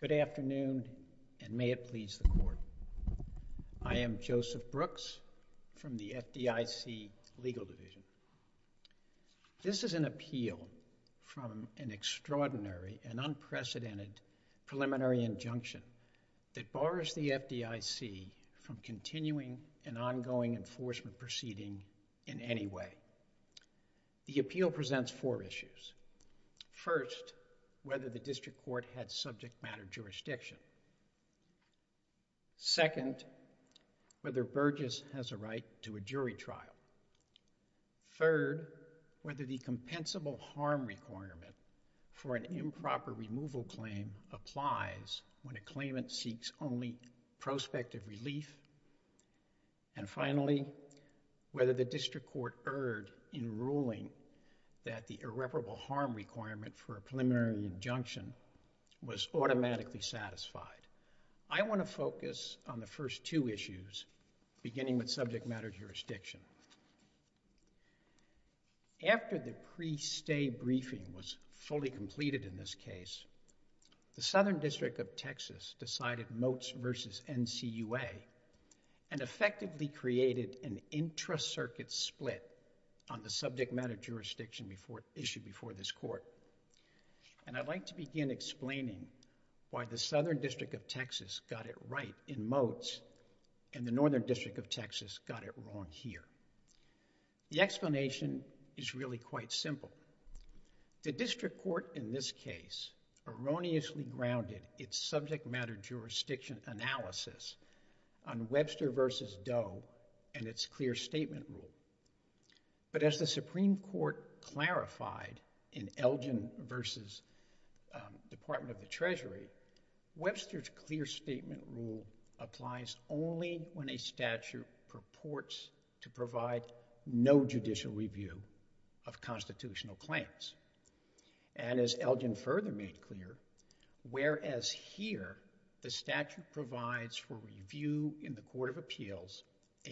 Good afternoon, and may it please the Court. I am Joseph Brooks from the FDIC Legal Division. This is an appeal from an extraordinary and unprecedented preliminary injunction that bars the FDIC from continuing an ongoing enforcement proceeding in any way. The appeal presents four issues. First, whether the District Court had subject matter jurisdiction. Second, whether Burgess has a right to a jury trial. Third, whether the compensable harm requirement for an improper removal claim applies when a claimant seeks only prospective relief. And finally, whether the District Court erred in ruling that the irreparable harm requirement for a preliminary injunction was automatically satisfied. I want to focus on the first two issues beginning with subject matter jurisdiction. After the pre-stay briefing was fully completed in this case, the Southern District of Texas decided Motes v. NCUA and effectively created an intracircuit split on the subject matter issue before this Court, and I'd like to begin explaining why the Southern District of Texas got it right in Motes and the Northern District of Texas got it wrong here. The explanation is really quite simple. The District Court in this case erroneously grounded its subject matter jurisdiction analysis on Webster v. Doe and its clear statement rule. But as the Supreme Court clarified in Elgin v. Department of the Treasury, Webster's clear statement rule applies only when a statute purports to provide no judicial review of constitutional claims. And as Elgin further made clear, whereas here the statute provides for review in the Court of Appeals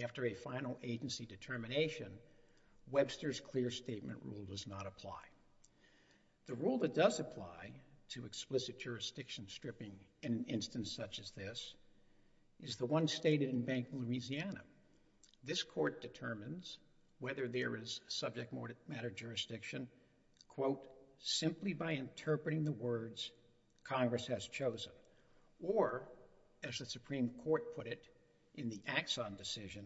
after a final agency determination, Webster's clear statement rule does not apply. The rule that does apply to explicit jurisdiction stripping in an instance such as this is the one stated in Bank of Louisiana. This Court determines whether there is subject matter jurisdiction, quote, simply by interpreting the words Congress has chosen, or as the Supreme Court put it in the Axon decision,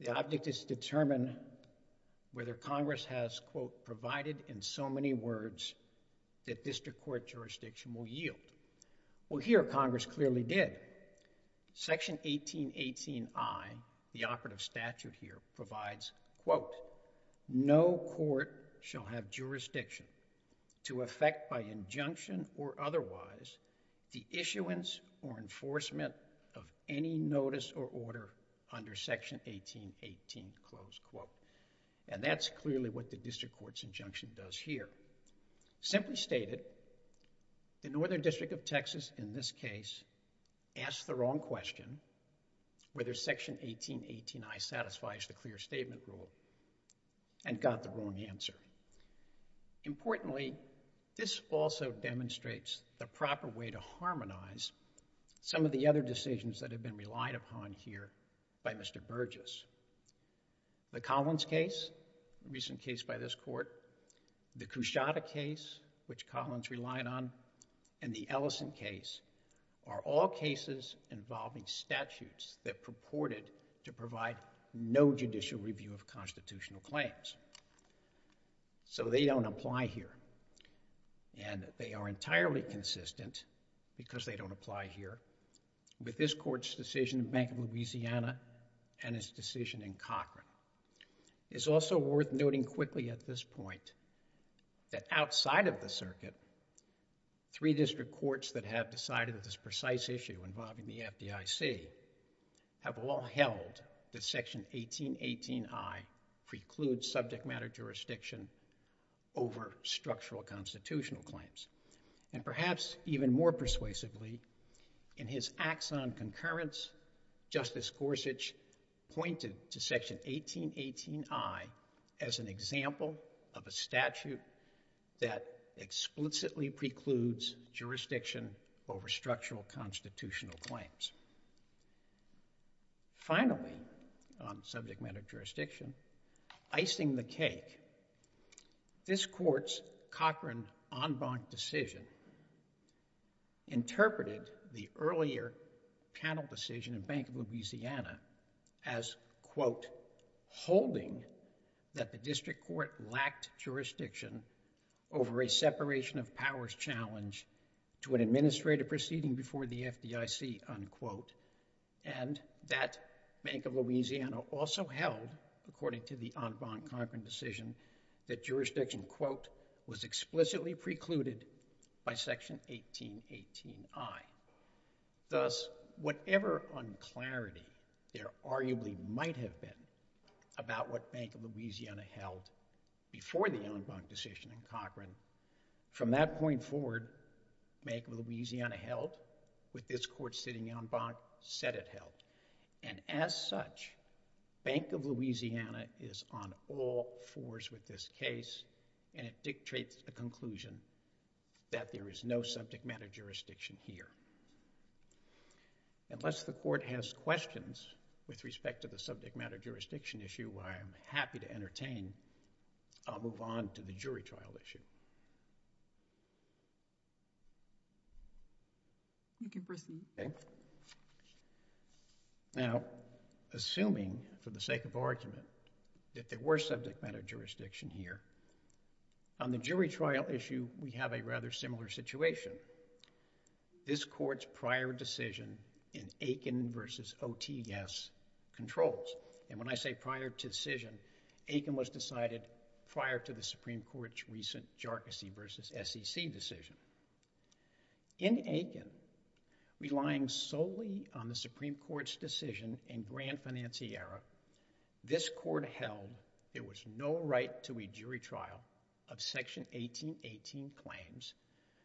the object is to determine whether Congress has, quote, provided in so many words that district court jurisdiction will yield. Well, here Congress clearly did. Section 1818I, the operative statute here, provides, quote, no court shall have jurisdiction to effect by injunction or otherwise the issuance or enforcement of any notice or order under Section 1818, close quote. And that's clearly what the district court's injunction does here. Simply stated, the Northern District of Texas in this case asked the wrong question whether Section 1818I satisfies the clear statement rule and got the wrong answer. Importantly, this also demonstrates the proper way to harmonize some of the other decisions that have been relied upon here by Mr. Burgess. The Collins case, a recent case by this Court, the Cushata case, which Collins relied on and the Ellison case are all cases involving statutes that purported to provide no judicial review of constitutional claims. So they don't apply here and they are entirely consistent because they don't apply here with this Court's decision in Bank of Louisiana and its decision in Cochran. It's also worth noting quickly at this point that outside of the circuit, three district courts that have decided this precise issue involving the FDIC have all held that Section 1818I precludes subject matter jurisdiction over structural constitutional claims. And perhaps even more persuasively, in his acts on concurrence, Justice Gorsuch pointed to Section 1818I as an example of a statute that explicitly precludes jurisdiction over structural constitutional claims. Finally, on subject matter jurisdiction, icing the cake, this Court's Cochran en banc decision interpreted the earlier panel decision in Bank of Louisiana as, quote, holding that the district court lacked jurisdiction over a separation of powers challenge to an administrative proceeding before the FDIC, unquote, and that Bank of Louisiana also held, according to the en banc Cochran decision, that jurisdiction, quote, was explicitly precluded by Section 1818I. Thus, whatever unclarity there arguably might have been about what Bank of Louisiana held before the en banc decision in Cochran, from that point forward, Bank of Louisiana held with this Court sitting en banc, said it held. And as such, Bank of Louisiana is on all fours with this case, and it dictates the conclusion that there is no subject matter jurisdiction here. Unless the Court has questions with respect to the subject matter jurisdiction issue, I am happy to entertain, I'll move on to the jury trial issue. You can proceed. Now, assuming, for the sake of argument, that there were subject matter jurisdiction here, on the jury trial issue, we have a rather similar situation. This Court's prior decision in Aiken v. OTS controls, and when I say prior decision, Aiken was decided prior to the Supreme Court's recent Jarkissi v. SEC decision. In Aiken, relying solely on the Supreme Court's decision in Grand Financiera, this Court held there was no right to a jury trial of Section 1818 claims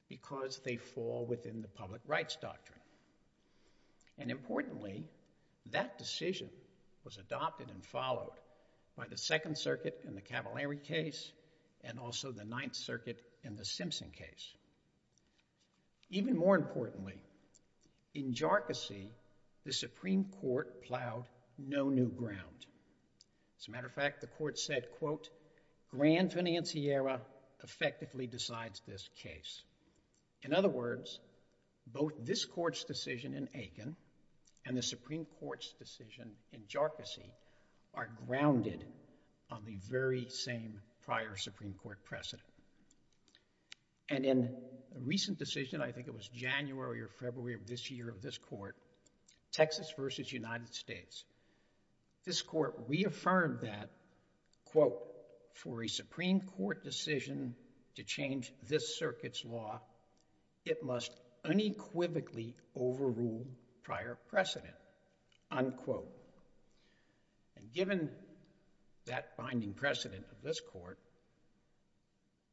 because they fall within the public rights doctrine. And importantly, that decision was adopted and followed by the Second Circuit in the Supreme Court. Even more importantly, in Jarkissi, the Supreme Court plowed no new ground. As a matter of fact, the Court said, quote, Grand Financiera effectively decides this case. In other words, both this Court's decision in Aiken and the Supreme Court's decision in Jarkissi are grounded on the very same prior Supreme Court precedent. And in a recent decision, I think it was January or February of this year of this Court, Texas v. United States, this Court reaffirmed that, quote, for a Supreme Court decision to change this Circuit's law, it must unequivocally overrule prior precedent, unquote. And given that binding precedent of this Court,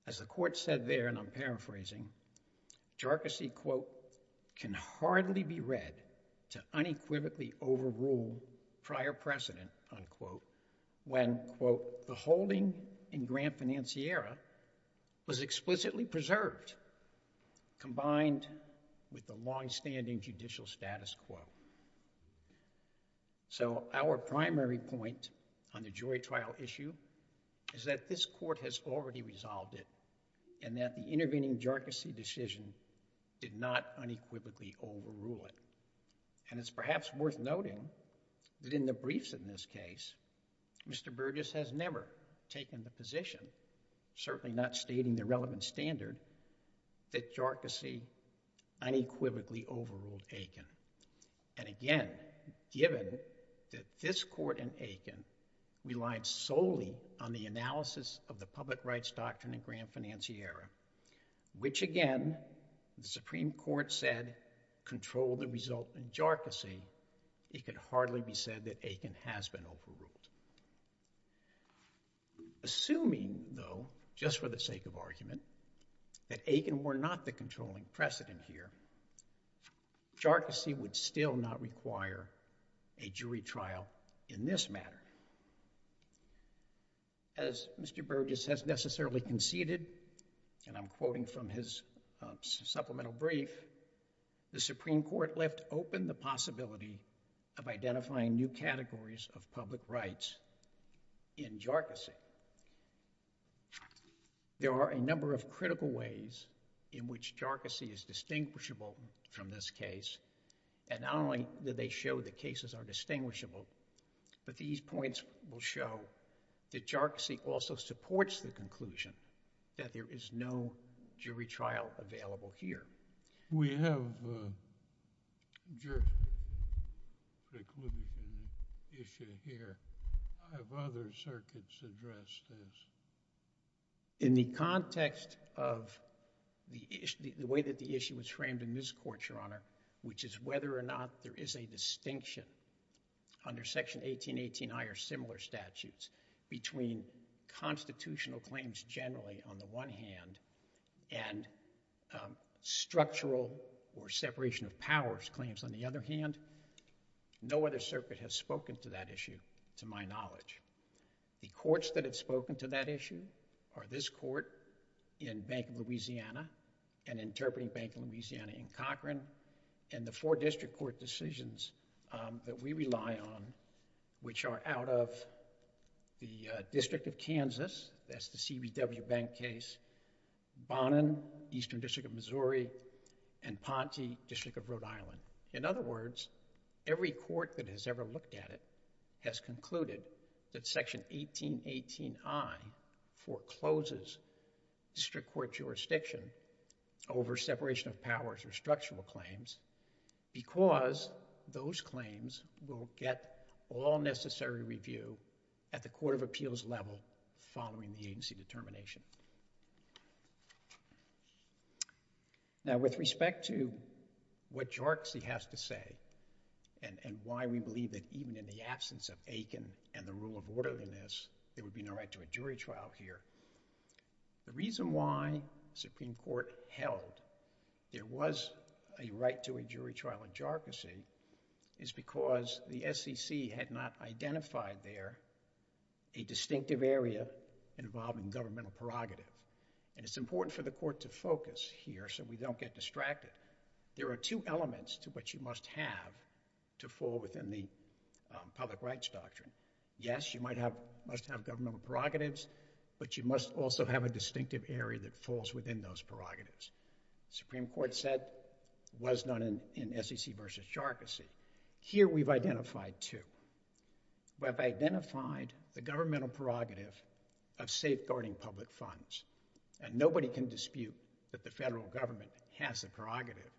as the Court said there, and I'm paraphrasing, Jarkissi, quote, can hardly be read to unequivocally overrule prior precedent, unquote, when, quote, the holding in Grand Financiera was explicitly preserved combined with the longstanding judicial status, quote. So our primary point on the jury trial issue is that this Court has already resolved it and that the intervening Jarkissi decision did not unequivocally overrule it. And it's perhaps worth noting that in the briefs in this case, Mr. Burgess has never taken the position, certainly not stating the relevant standard, that Jarkissi unequivocally overruled Aiken. And again, given that this Court and Aiken relied solely on the analysis of the public rights doctrine in Grand Financiera, which again, the Supreme Court said controlled the result in Jarkissi, it could hardly be said that Aiken has been overruled. Assuming though, just for the sake of argument, that Aiken were not the controlling precedent here, Jarkissi would still not require a jury trial in this matter. As Mr. Burgess has necessarily conceded, and I'm quoting from his supplemental brief, the Supreme Court left open the possibility of identifying new categories of public rights in Jarkissi. However, there are a number of critical ways in which Jarkissi is distinguishable from this case, and not only do they show the cases are distinguishable, but these points will show that Jarkissi also supports the conclusion that there is no jury trial available here. We have a jury conclusion issue here. I have other circuits address this. In the context of the way that the issue was framed in this Court, Your Honor, which is whether or not there is a distinction under Section 1818I or similar statutes between constitutional claims generally on the one hand and structural or separation of powers claims on the other hand, no other circuit has spoken to that issue to my knowledge. The courts that have spoken to that issue are this Court in Bank of Louisiana and Interpreting Bank of Louisiana in Cochran, and the four district court decisions that we rely on which are out of the District of Kansas, that's the CBW Bank case, Bonnen, Eastern District of Missouri, and Ponte, District of Rhode Island. In other words, every court that has ever looked at it has concluded that Section 1818I forecloses district court jurisdiction over separation of powers or structural claims because those claims will get all necessary review at the Court of Appeals level following the agency determination. Now with respect to what JARCSI has to say and why we believe that even in the absence of Aiken and the rule of orderliness, there would be no right to a jury trial here. The reason why Supreme Court held there was a right to a jury trial in JARCSI is because the SEC had not identified there a distinctive area involving governmental prerogative, and it's important for the Court to focus here so we don't get distracted. There are two elements to what you must have to fall within the public rights doctrine. Yes, you must have governmental prerogatives, but you must also have a distinctive area that falls within those prerogatives. The Supreme Court said it was not in SEC v. JARCSI. Here we've identified two. We've identified the governmental prerogative of safeguarding public funds, and nobody can dispute that the federal government has a prerogative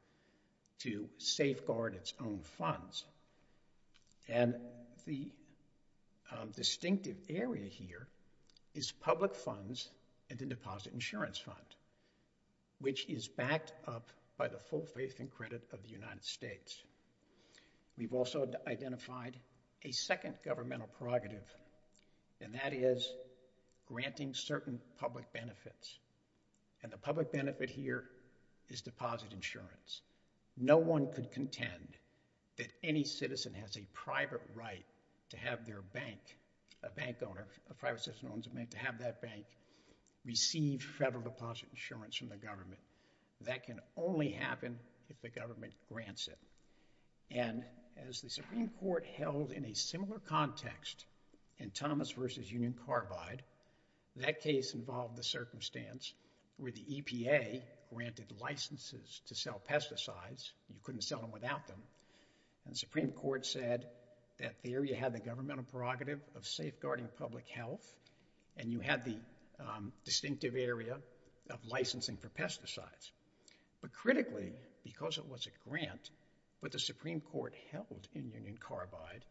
to safeguard its own funds. And the distinctive area here is public funds and the deposit insurance fund, which is backed up by the full faith and credit of the United States. We've also identified a second governmental prerogative, and that is granting certain public benefits, and the public benefit here is deposit insurance. No one could contend that any citizen has a private right to have their bank, a bank owner, a private citizen owns a bank, to have that bank receive federal deposit insurance from the government. That can only happen if the government grants it. And as the Supreme Court held in a similar context in Thomas v. Union Carbide, that case involved the circumstance where the EPA granted licenses to sell pesticides. You couldn't sell them without them. And the Supreme Court said that there you have the governmental prerogative of safeguarding public health, and you have the distinctive area of licensing for pesticides. But critically, because it was a grant, what the Supreme Court held in Union Carbide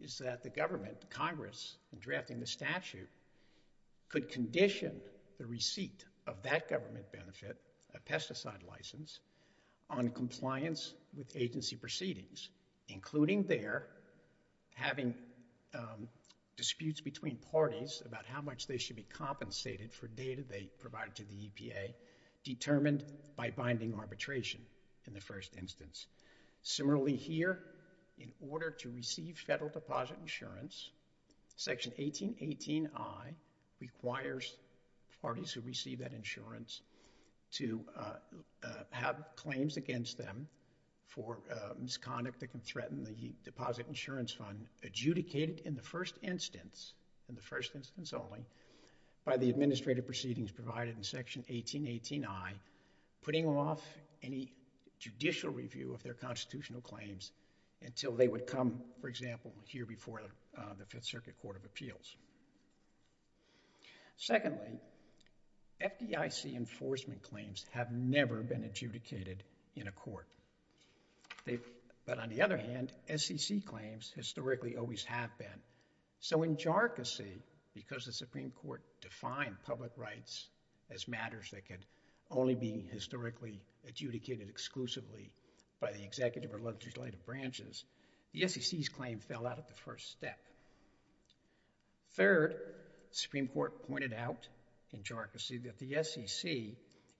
is that the government, Congress, in drafting the statute, could condition the receipt of that government benefit, a pesticide license, on compliance with agency proceedings, including there having disputes between parties about how much they should be compensated for data they provided to the EPA, determined by binding arbitration in the first instance. Similarly here, in order to receive federal deposit insurance, Section 1818I requires parties who receive that insurance to have claims against them for misconduct that can be in the deposit insurance fund adjudicated in the first instance, in the first instance only, by the administrative proceedings provided in Section 1818I, putting off any judicial review of their constitutional claims until they would come, for example, here before the Fifth Circuit Court of Appeals. Secondly, FDIC enforcement claims have never been adjudicated in a court. But on the other hand, SEC claims historically always have been. So in jarcosy, because the Supreme Court defined public rights as matters that could only be historically adjudicated exclusively by the executive or legislative branches, the SEC's claim fell out of the first step. Third, the Supreme Court pointed out in jarcosy that the SEC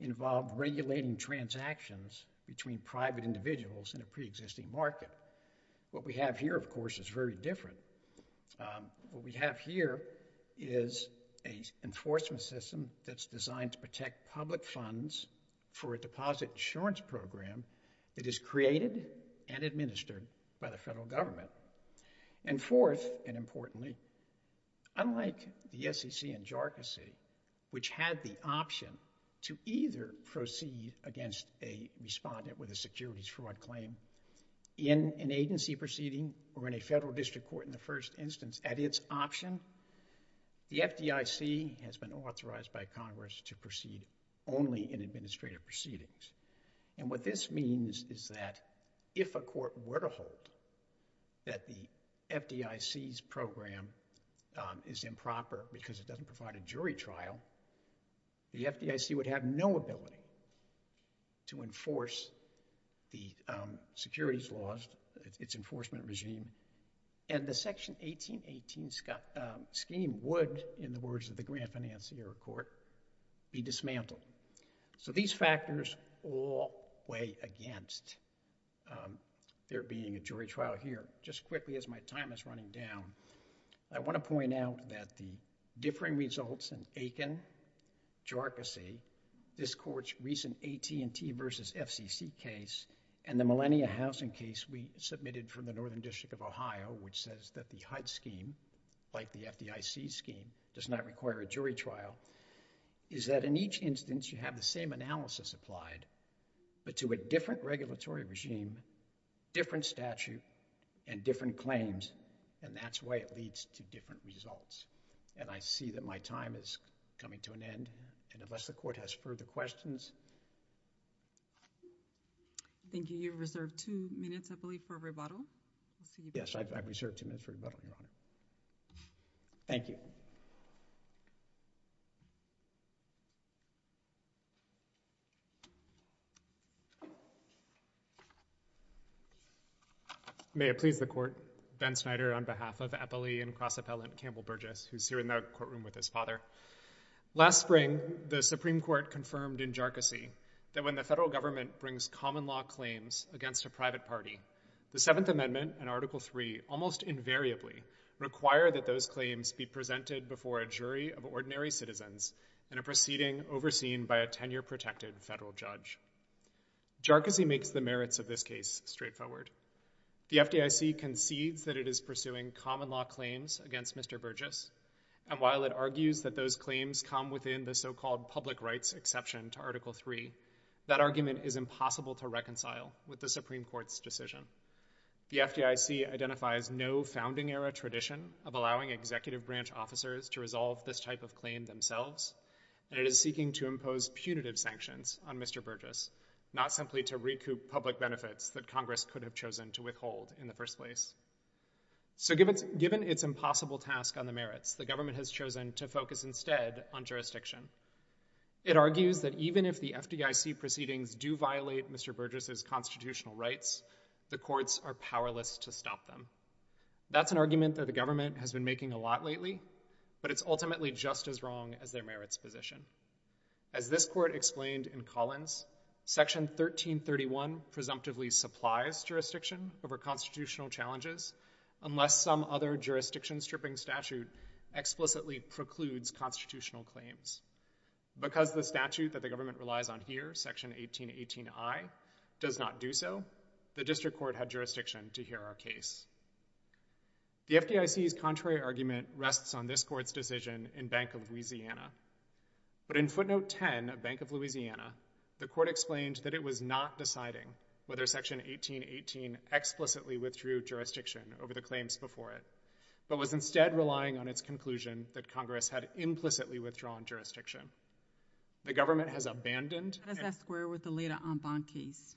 involved regulating transactions between private individuals in a pre-existing market. What we have here, of course, is very different. What we have here is an enforcement system that's designed to protect public funds for a deposit insurance program that is created and administered by the federal government. And fourth, and importantly, unlike the SEC in jarcosy, which had the option to either proceed against a respondent with a securities fraud claim in an agency proceeding or in a federal district court in the first instance, at its option, the FDIC has been authorized by Congress to proceed only in administrative proceedings. And what this means is that if a court were to hold that the FDIC's program is improper because it doesn't provide a jury trial, the FDIC would have no ability to enforce the securities laws, its enforcement regime, and the Section 1818 scheme would, in the words of the Grant Financier Court, be dismantled. So these factors all weigh against there being a jury trial here. Just quickly as my time is running down, I want to point out that the differing results in Aiken, jarcosy, this Court's recent AT&T versus FCC case, and the millennia housing case we submitted from the Northern District of Ohio, which says that the HUD scheme, like the FDIC scheme, does not require a jury trial, is that in each instance you have the same analysis applied, but to a different regulatory regime, different statute, and different claims, and that's why it leads to different results. And I see that my time is coming to an end, and unless the Court has further questions. Thank you. You have reserved two minutes, I believe, for rebuttal. Yes, I've reserved two minutes for rebuttal, Your Honor. Thank you. May it please the Court, Ben Snyder on behalf of Eppley and cross-appellant Campbell Burgess, who's here in the courtroom with his father. Last spring, the Supreme Court confirmed in jarcosy that when the federal government brings common law claims against a private party, the Seventh Amendment and Article III almost invariably require that those claims be presented before a jury of ordinary citizens in a proceeding overseen by a tenure-protected federal judge. Jarcosy makes the merits of this case straightforward. The FDIC concedes that it is pursuing common law claims against Mr. Burgess, and while it argues that those claims come within the so-called public rights exception to Article III, that argument is impossible to reconcile with the Supreme Court's decision. The FDIC identifies no founding-era tradition of allowing executive branch officers to resolve this type of claim themselves, and it is seeking to impose punitive sanctions on Mr. Burgess, not simply to recoup public benefits that Congress could have chosen to withhold in the first place. So given its impossible task on the merits, the government has chosen to focus instead on jurisdiction. It argues that even if the FDIC proceedings do violate Mr. Burgess's constitutional rights, the courts are powerless to stop them. That's an argument that the FDIC is ultimately just as wrong as their merits position. As this court explained in Collins, Section 1331 presumptively supplies jurisdiction over constitutional challenges unless some other jurisdiction-stripping statute explicitly precludes constitutional claims. Because the statute that the government relies on here, Section 1818I, does not do so, the district court had jurisdiction to hear our case. The FDIC's contrary argument rests on this court's decision in Bank of Louisiana. But in footnote 10 of Bank of Louisiana, the court explained that it was not deciding whether Section 1818 explicitly withdrew jurisdiction over the claims before it, but was instead relying on its conclusion that Congress had implicitly withdrawn jurisdiction. The government has abandoned— How does that square with the Leda Ambon case?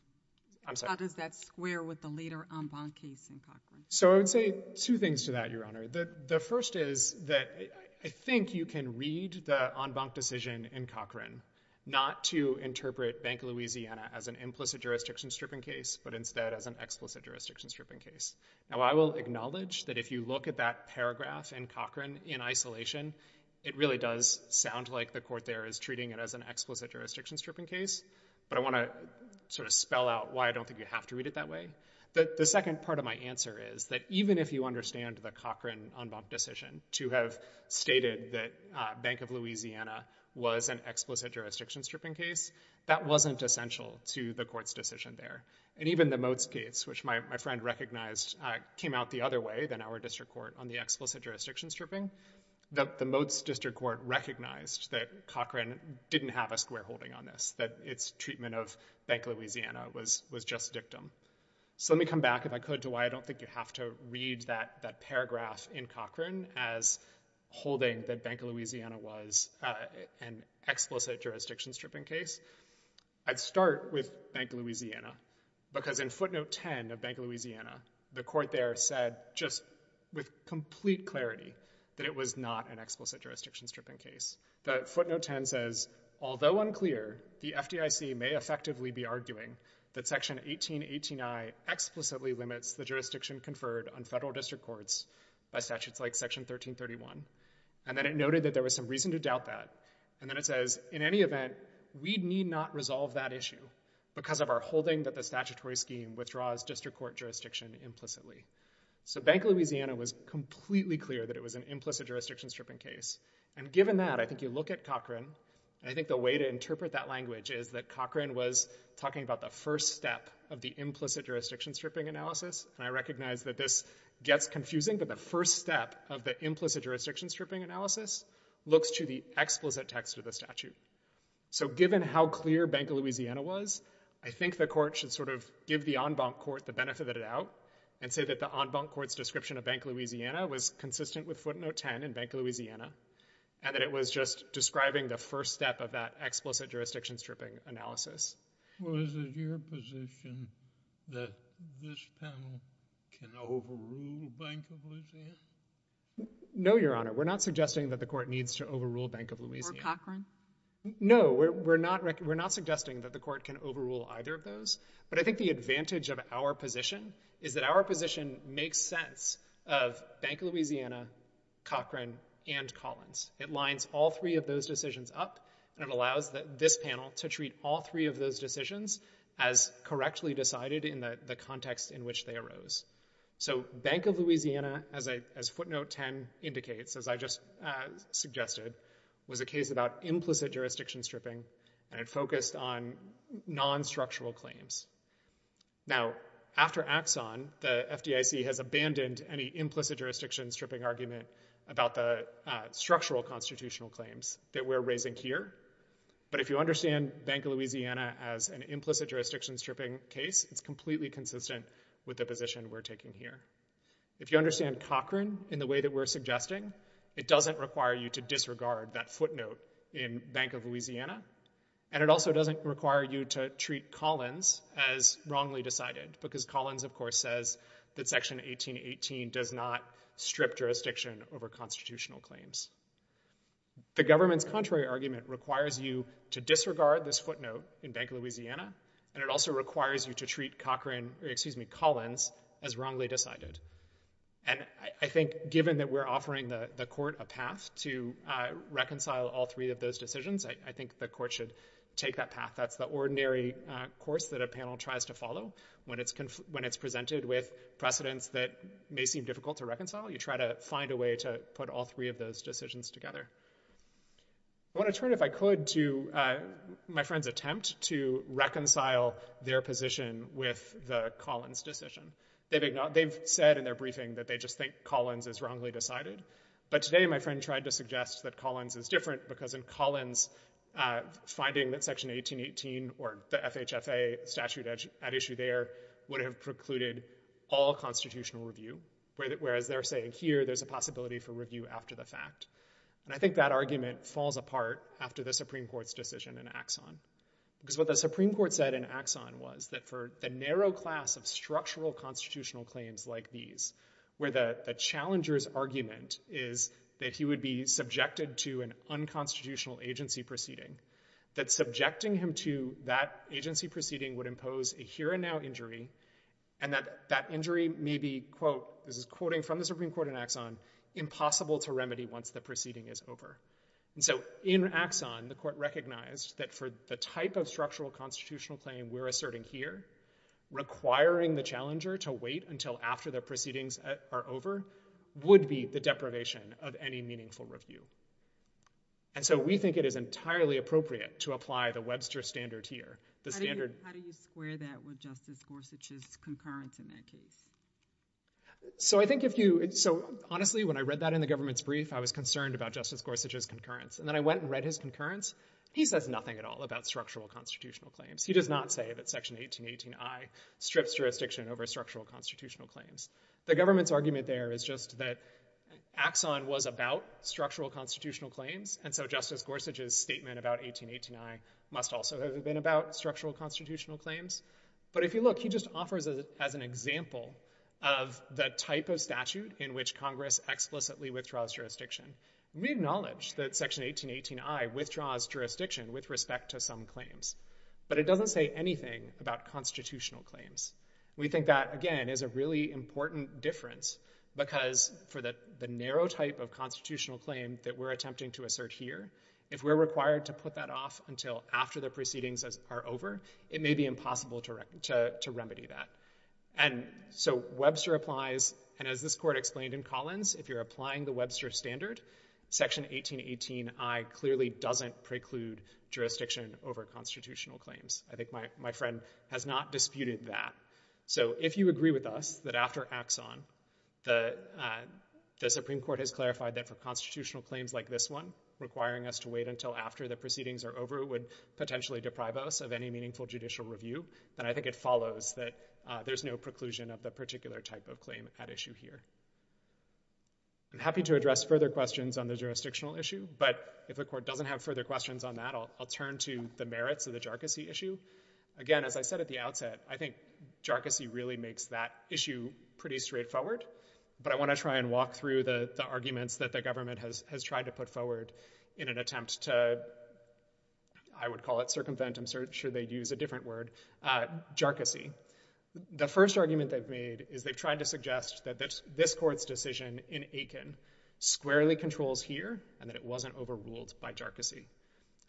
So I would say two things to that, Your Honor. The first is that I think you can read the Ambon decision in Cochran not to interpret Bank of Louisiana as an implicit jurisdiction-stripping case, but instead as an explicit jurisdiction-stripping case. Now I will acknowledge that if you look at that paragraph in Cochran in isolation, it really does sound like the court there is treating it as an explicit jurisdiction-stripping case. But I want to sort of spell out why I don't think you have to read it that way. The second part of my answer is that even if you understand the Cochran-Ambon decision to have stated that Bank of Louisiana was an explicit jurisdiction-stripping case, that wasn't essential to the court's decision there. And even the Motes case, which my friend recognized, came out the other way than our district court on the explicit jurisdiction-stripping. The Motes district court recognized that Cochran didn't have a square holding on this, that its treatment of Bank of Louisiana was just dictum. So let me come back, if I could, to why I don't think you have to read that paragraph in Cochran as holding that Bank of Louisiana was an explicit jurisdiction-stripping case. I'd start with Bank of Louisiana, because in footnote 10 of Bank of Louisiana, the court there said just with complete clarity that it was not an explicit jurisdiction-stripping case. The footnote 10 says, although unclear, the FDIC may effectively be arguing that Section 1818I explicitly limits the jurisdiction conferred on federal district courts by statutes like Section 1331. And then it noted that there was some reason to doubt that. And then it says, in any event, we need not resolve that issue because of our holding that the statutory scheme withdraws district court jurisdiction implicitly. So Bank of Louisiana was completely clear that it was an implicit jurisdiction-stripping case. And given that, I think you look at Cochran, and I think the way to interpret that language is that Cochran was talking about the first step of the implicit jurisdiction-stripping analysis. And I recognize that this gets confusing, but the first step of the implicit jurisdiction-stripping analysis looks to the explicit text of the statute. So given how clear Bank of Louisiana was, I think the court should sort of give the en banc court the benefit of the doubt and say that the en banc court's decision to bank Louisiana was consistent with footnote 10 in Bank of Louisiana, and that it was just describing the first step of that explicit jurisdiction-stripping analysis. Well, is it your position that this panel can overrule Bank of Louisiana? No, Your Honor. We're not suggesting that the court needs to overrule Bank of Louisiana. Or Cochran? No. We're not suggesting that the court can overrule either of those. But I think the advantage of our position is that our position makes sense of Bank of Louisiana, Cochran, and Collins. It lines all three of those decisions up, and it allows this panel to treat all three of those decisions as correctly decided in the context in which they arose. So Bank of Louisiana, as footnote 10 indicates, as I just suggested, was a case about implicit jurisdiction-stripping, and it focused on non-structural claims. Now, after Axon, the FDIC has abandoned any implicit jurisdiction-stripping argument about the structural constitutional claims that we're raising here. But if you understand Bank of Louisiana as an implicit jurisdiction-stripping case, it's completely consistent with the position we're taking here. If you understand Cochran in the way that we're suggesting, it doesn't require you to disregard that footnote in Bank of Louisiana, and it also doesn't require you to treat Collins as wrongly decided, because Collins, of course, says that Section 1818 does not strip jurisdiction over constitutional claims. The government's contrary argument requires you to disregard this footnote in Bank of Louisiana, and it also requires you to treat Collins as wrongly decided. And I think, given that we're offering the court a path to reconcile all three of those decisions, I think the court should take that path. That's the ordinary course that a panel tries to follow when it's presented with precedents that may seem difficult to reconcile. You try to find a way to put all three of those decisions together. I want to turn, if I could, to my friend's attempt to reconcile their position with the fact that they've said in their briefing that they just think Collins is wrongly decided, but today my friend tried to suggest that Collins is different, because in Collins, finding that Section 1818 or the FHFA statute at issue there would have precluded all constitutional review, whereas they're saying here there's a possibility for review after the fact. And I think that argument falls apart after the Supreme Court's decision in Axon, because what the Supreme Court said in Axon was that for the narrow class of structural constitutional claims like these, where the challenger's argument is that he would be subjected to an unconstitutional agency proceeding, that subjecting him to that agency proceeding would impose a here-and-now injury, and that that injury may be, quote, this is quoting from the Supreme Court in Axon, impossible to remedy once the proceeding is over. And so in Axon, the court recognized that for the type of structural constitutional claim we're asserting here, requiring the challenger to wait until after the proceedings are over would be the deprivation of any meaningful review. And so we think it is entirely appropriate to apply the Webster standard here, the standard— How do you square that with Justice Gorsuch's concurrence in that case? So I think if you—so honestly, when I read that in the government's brief, I was concerned about Justice Gorsuch's concurrence. And then I went and read his concurrence. He says nothing at all about structural constitutional claims. He does not say that Section 1818 I strips jurisdiction over structural constitutional claims. The government's argument there is just that Axon was about structural constitutional claims, and so Justice Gorsuch's statement about 1818 I must also have been about structural constitutional claims. But if you look, he just offers it as an example of the type of statute in which Congress explicitly withdraws jurisdiction. We acknowledge that Section 1818 I withdraws jurisdiction with respect to some claims, but it doesn't say anything about constitutional claims. We think that, again, is a really important difference because for the narrow type of constitutional claim that we're attempting to assert here, if we're required to put that off until after the proceedings are over, it may be impossible to remedy that. And so Webster applies, and as this Court explained in Collins, if you're applying the Webster standard, Section 1818 I clearly doesn't preclude jurisdiction over constitutional claims. I think my friend has not disputed that. So if you agree with us that after Axon, the Supreme Court has clarified that for constitutional claims like this one, requiring us to wait until after the proceedings are over would potentially deprive us of any meaningful judicial review, then I think it follows that there's no preclusion of the particular type of claim at issue here. I'm happy to address further questions on the jurisdictional issue, but if the Court doesn't have further questions on that, I'll turn to the merits of the jargonsy issue. Again, as I said at the outset, I think jargonsy really makes that issue pretty straightforward, but I want to try and walk through the arguments that the government has tried to put forward in an attempt to, I would call it circumvent, I'm sure they'd use a different word, jargonsy. The first argument they've made is they've tried to suggest that this Court's decision in Aiken squarely controls here and that it wasn't overruled by jargonsy.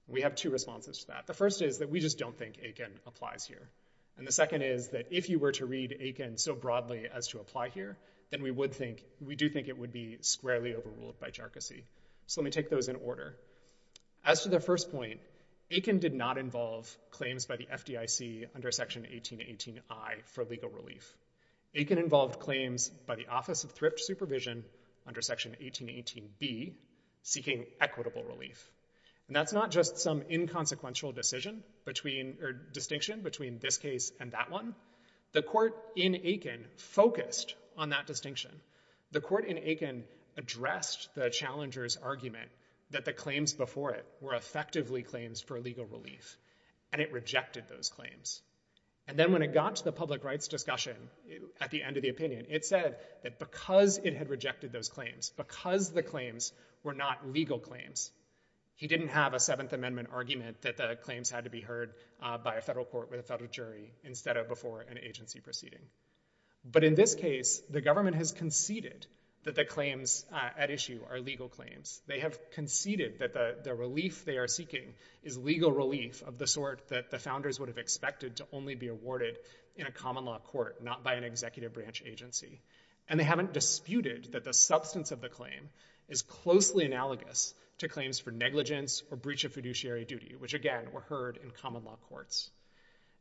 We have two responses to that. The first is that we just don't think Aiken applies here. And the second is that if you were to read Aiken so broadly as to apply here, then we do think it would be squarely overruled by jargonsy. So let me take those in order. As to the first point, Aiken did not involve claims by the FDIC under Section 1818I for legal relief. Aiken involved claims by the Office of Thrift Supervision under Section 1818B seeking equitable relief. And that's not just some inconsequential decision between, or distinction between this case and that one. The Court in Aiken focused on that distinction. The Court in Aiken addressed the challenger's argument that the claims before it were effectively claims for legal relief, and it rejected those claims. And then when it got to the public rights discussion at the end of the opinion, it said that because it had rejected those claims, because the claims were not legal claims, he didn't have a Seventh Amendment argument that the claims had to be heard by a federal court with a federal jury instead of before an agency proceeding. But in this case, the government has conceded that the claims at issue are legal claims. They have conceded that the relief they are seeking is legal relief of the sort that the founders would have expected to only be awarded in a common law court, not by an executive branch agency. And they haven't disputed that the substance of the claim is closely analogous to claims for negligence or breach of fiduciary duty, which, again, were heard in common law courts.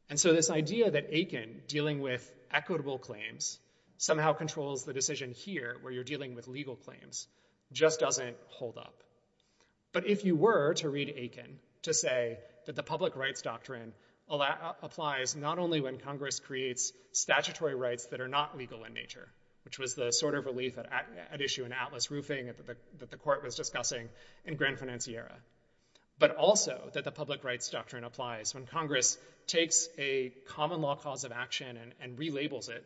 And so this idea that Aiken dealing with equitable claims somehow controls the decision here where you're dealing with legal claims just doesn't hold up. But if you were to read Aiken to say that the public rights doctrine applies not only when Congress creates statutory rights that are not legal in nature, which was the sort of relief at issue in Atlas Roofing that the Court was discussing in Grand Anciera, but also that the public rights doctrine applies when Congress takes a common law cause of action and relabels it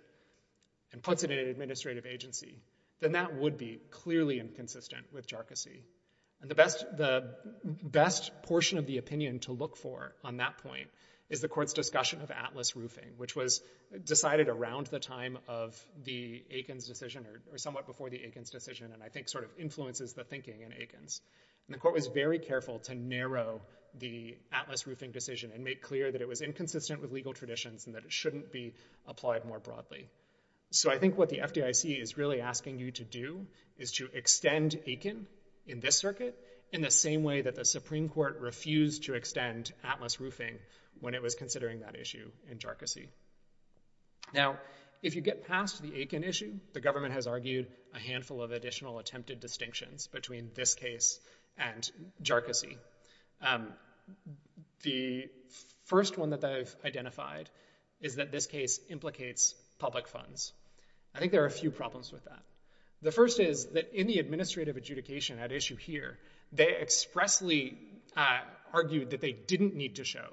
and puts it in an administrative agency, then that would be clearly inconsistent with jarcossy. And the best portion of the opinion to look for on that point is the Court's discussion of Atlas Roofing, which was decided around the time of the Aiken's decision or somewhat before the Aiken's decision, and I think sort of influences the thinking in Aiken's. And the Court was very careful to narrow the Atlas Roofing decision and make clear that it was inconsistent with legal traditions and that it shouldn't be applied more broadly. So I think what the FDIC is really asking you to do is to extend Aiken in this circuit in the same way that the Supreme Court refused to extend Atlas Roofing when it was considering that issue in jarcossy. Now, if you get past the Aiken issue, the government has argued a handful of additional attempted distinctions between this case and jarcossy. The first one that they've identified is that this case implicates public funds. I think there are a few problems with that. The first is that in the administrative adjudication at issue here, they expressly argued that they didn't need to show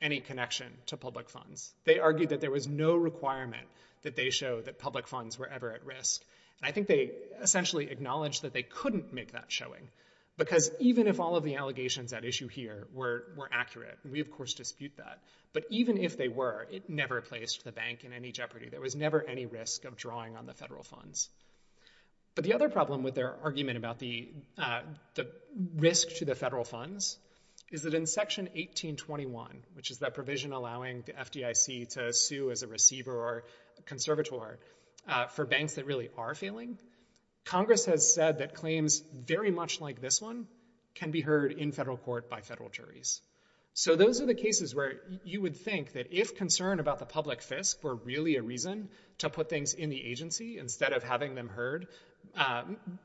any connection to public funds. They argued that there was no requirement that they show that public funds were ever at risk. And I think they essentially acknowledged that they couldn't make that showing, because even if all of the allegations at issue here were accurate, and we of course dispute that, but even if they were, it never placed the bank in any jeopardy. There was never any risk of drawing on the federal funds. But the other problem with their argument about the risk to the federal funds is that in Section 1821, which is that provision allowing the FDIC to sue as a receiver or conservator for banks that really are failing, Congress has said that claims very much like this one can be heard in federal court by federal juries. So those are the cases where you would think that if concern about the public fisc were really a reason to put things in the agency instead of having them heard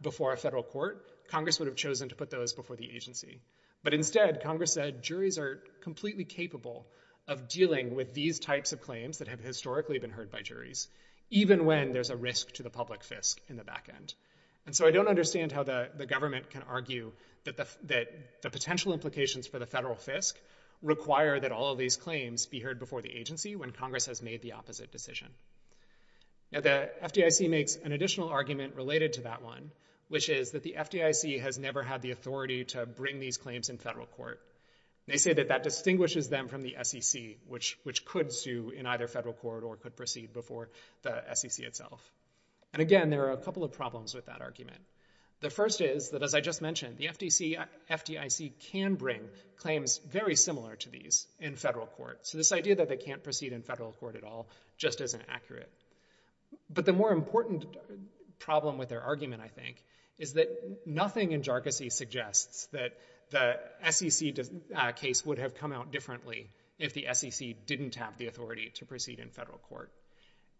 before a federal court, Congress would have chosen to put those before the agency. But instead, Congress said juries are completely capable of dealing with these types of claims that have historically been heard by juries, even when there's a risk to the public fisc in the back end. And so I don't understand how the government can argue that the potential implications for the federal fisc require that all of these claims be heard before the agency when Congress has made the opposite decision. Now the FDIC makes an additional argument related to that one, which is that the FDIC has never had the authority to bring these claims in federal court. They say that that distinguishes them from the SEC, which could sue in either federal court or could proceed before the SEC itself. And again, there are a couple of problems with that argument. The first is that, as I just mentioned, the FDIC can bring claims very similar to these in federal court. So this idea that they can't proceed in federal court at all just isn't accurate. But the more important problem with their argument, I think, is that nothing in jarcossi suggests that the SEC case would have come out differently if the SEC didn't have the authority to proceed in federal court.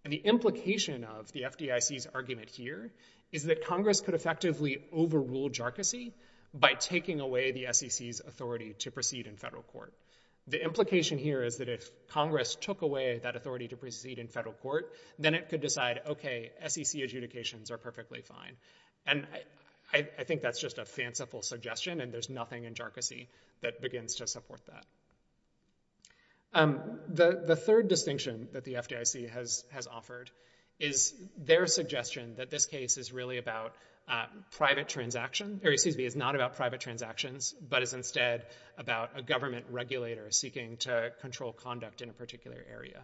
And the implication of the FDIC's argument here is that Congress could effectively overrule jarcossi by taking away the SEC's authority to proceed in federal court. The implication here is that if Congress took away that authority to proceed in federal court, then it could decide, OK, SEC adjudications are perfectly fine. And I think that's just a fanciful suggestion. And there's nothing in jarcossi that begins to support that. The third distinction that the FDIC has offered is their suggestion that this case is really about private transactions. Or excuse me, it's not about private transactions, but it's instead about a government regulator seeking to control conduct in a particular area.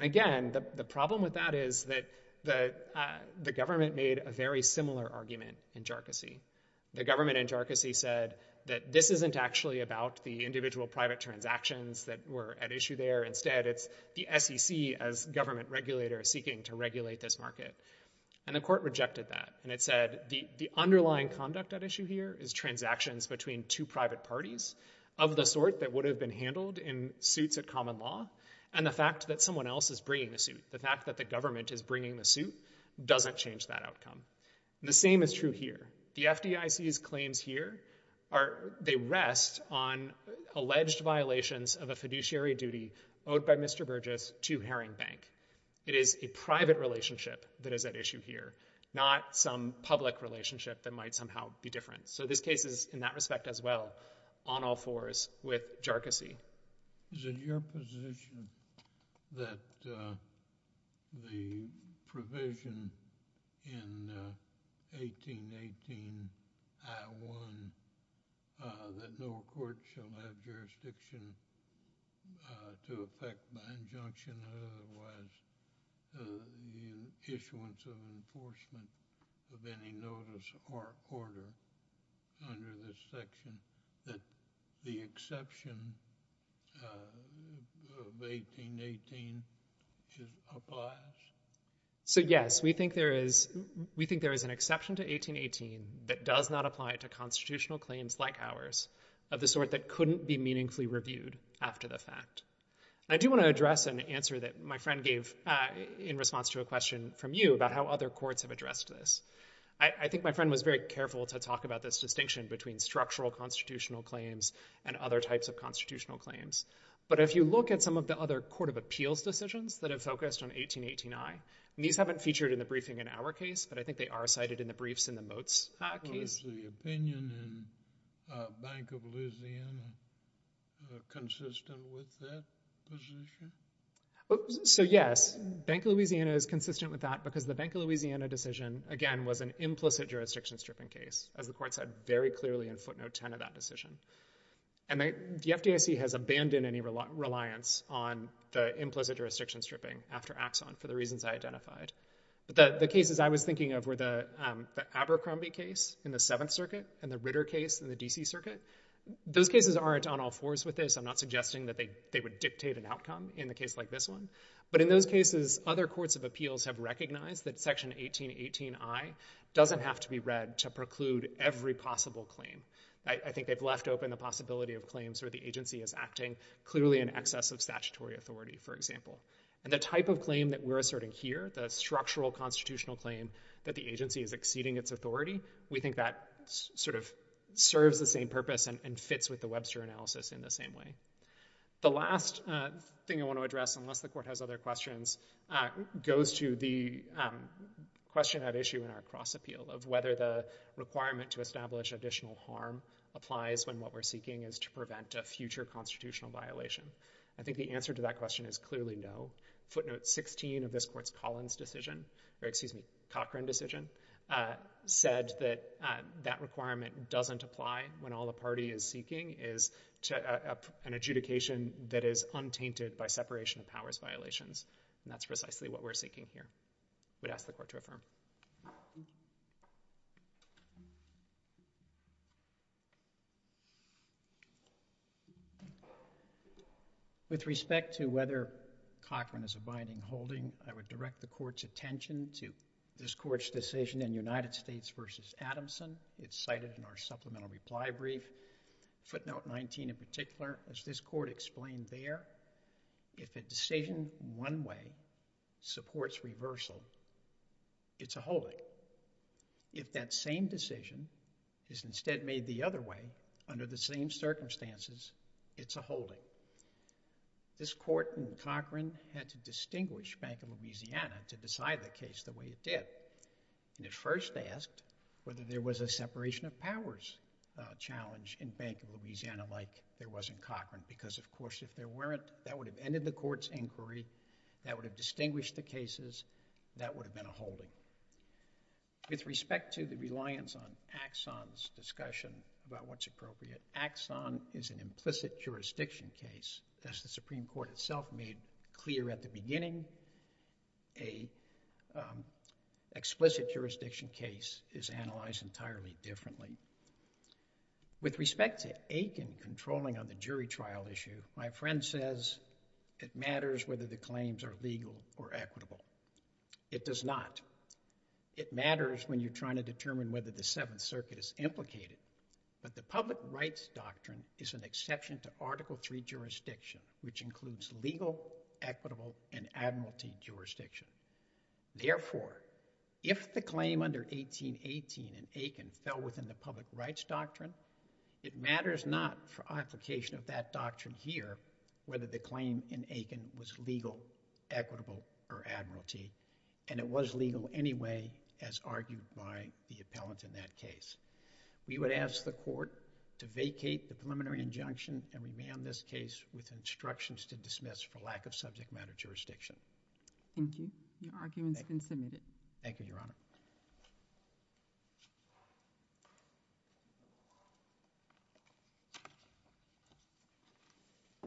Again, the problem with that is that the government made a very similar argument in jarcossi. The government in jarcossi said that this isn't actually about the individual private transactions that were at issue there. Instead, it's the SEC as government regulator seeking to regulate this market. And the court rejected that. And it said the underlying conduct at issue here is transactions between two private parties of the sort that would have been handled in suits at common law. And the fact that someone else is bringing the suit, the fact that the government is bringing the suit, doesn't change that outcome. The same is true here. The FDIC's claims here, they rest on alleged violations of a fiduciary duty owed by Mr. Burgess to Herring Bank. It is a private relationship that is at issue here, not some public relationship that might somehow be different. So this case is, in that respect as well, on all fours with jarcossi. Is it your position that the provision in 1818 I-1 that no court shall have jurisdiction to effect by injunction or otherwise the issuance of enforcement of any notice or order under this section, that the exception of 1818 applies? So yes, we think there is an exception to 1818 that does not apply to constitutional claims like ours, of the sort that couldn't be meaningfully reviewed after the fact. I do want to address an answer that my friend gave in response to a question from you about how other courts have addressed this. I think my friend was very careful to talk about this distinction between structural constitutional claims and other types of constitutional claims. But if you look at some of the other court of appeals decisions that have focused on 1818 I, and these haven't featured in the briefing in our case, but I think they are cited in the briefs in the Motes case. Was the opinion in Bank of Louisiana consistent with that position? So yes, Bank of Louisiana is consistent with that because the Bank of Louisiana decision, again, was an implicit jurisdiction stripping case, as the court said very clearly in footnote 10 of that decision. And the FDIC has abandoned any reliance on the implicit jurisdiction stripping after Axon for the reasons I identified. The cases I was thinking of were the Abercrombie case in the Seventh Circuit and the Ritter case in the D.C. Circuit. Those cases aren't on all fours with this. I'm not suggesting that they would dictate an outcome in a case like this one. But in those cases, other courts of appeals have recognized that Section 1818 I doesn't have to be read to preclude every possible claim. I think they've left open the possibility of claims where the agency is acting clearly in excess of statutory authority, for example. And the type of claim that we're asserting here, the structural constitutional claim that the agency is exceeding its authority, we think that sort of serves the same purpose and fits with the Webster analysis in the same way. The last thing I want to address, unless the court has other questions, goes to the question at issue in our cross appeal of whether the requirement to establish additional harm applies when what we're seeking is to prevent a future constitutional violation. I think the answer to that question is clearly no. Footnote 16 of this court's Collins decision, or excuse me, Cochran decision, said that that requirement doesn't apply when all the party is seeking is an adjudication that is untainted by separation of powers violations. And that's precisely what we're seeking here. I would ask the court to affirm. With respect to whether Cochran is abiding holding, I would direct the court's attention to this court's decision in United States v. Adamson. It's cited in our supplemental reply brief. Footnote 19 in particular, as this court explained there, if a decision in one way supports reversal, it's a holding. If that same decision is instead made the other way under the same circumstances, it's a holding. This court in Cochran had to distinguish Bank of Louisiana to decide the case the way it did. And it first asked whether there was a separation of powers challenge in Bank of Louisiana like there was in Cochran, because of course, if there weren't, that would have ended the court's inquiry, that would have distinguished the cases, that would have been a holding. With respect to the reliance on Axon's discussion about what's appropriate, Axon is an implicit jurisdiction case. As the Supreme Court itself made clear at the beginning, a explicit jurisdiction case is analyzed entirely differently. With respect to Aiken controlling on the jury trial issue, my friend says it matters whether the claims are legal or equitable. It does not. It matters when you're trying to determine whether the Seventh Circuit is implicated, but the public rights doctrine is an exception to Article III jurisdiction, which includes legal, equitable, and admiralty jurisdiction. Therefore, if the claim under 1818 in Aiken fell within the public rights doctrine, it matters not for application of that doctrine here whether the claim in Aiken was legal, equitable, or admiralty, and it was legal anyway as argued by the appellant in that case. We would ask the court to vacate the preliminary injunction and remand this case with instructions to dismiss for lack of subject matter jurisdiction. Thank you. Your argument has been submitted. Thank you, Your Honor.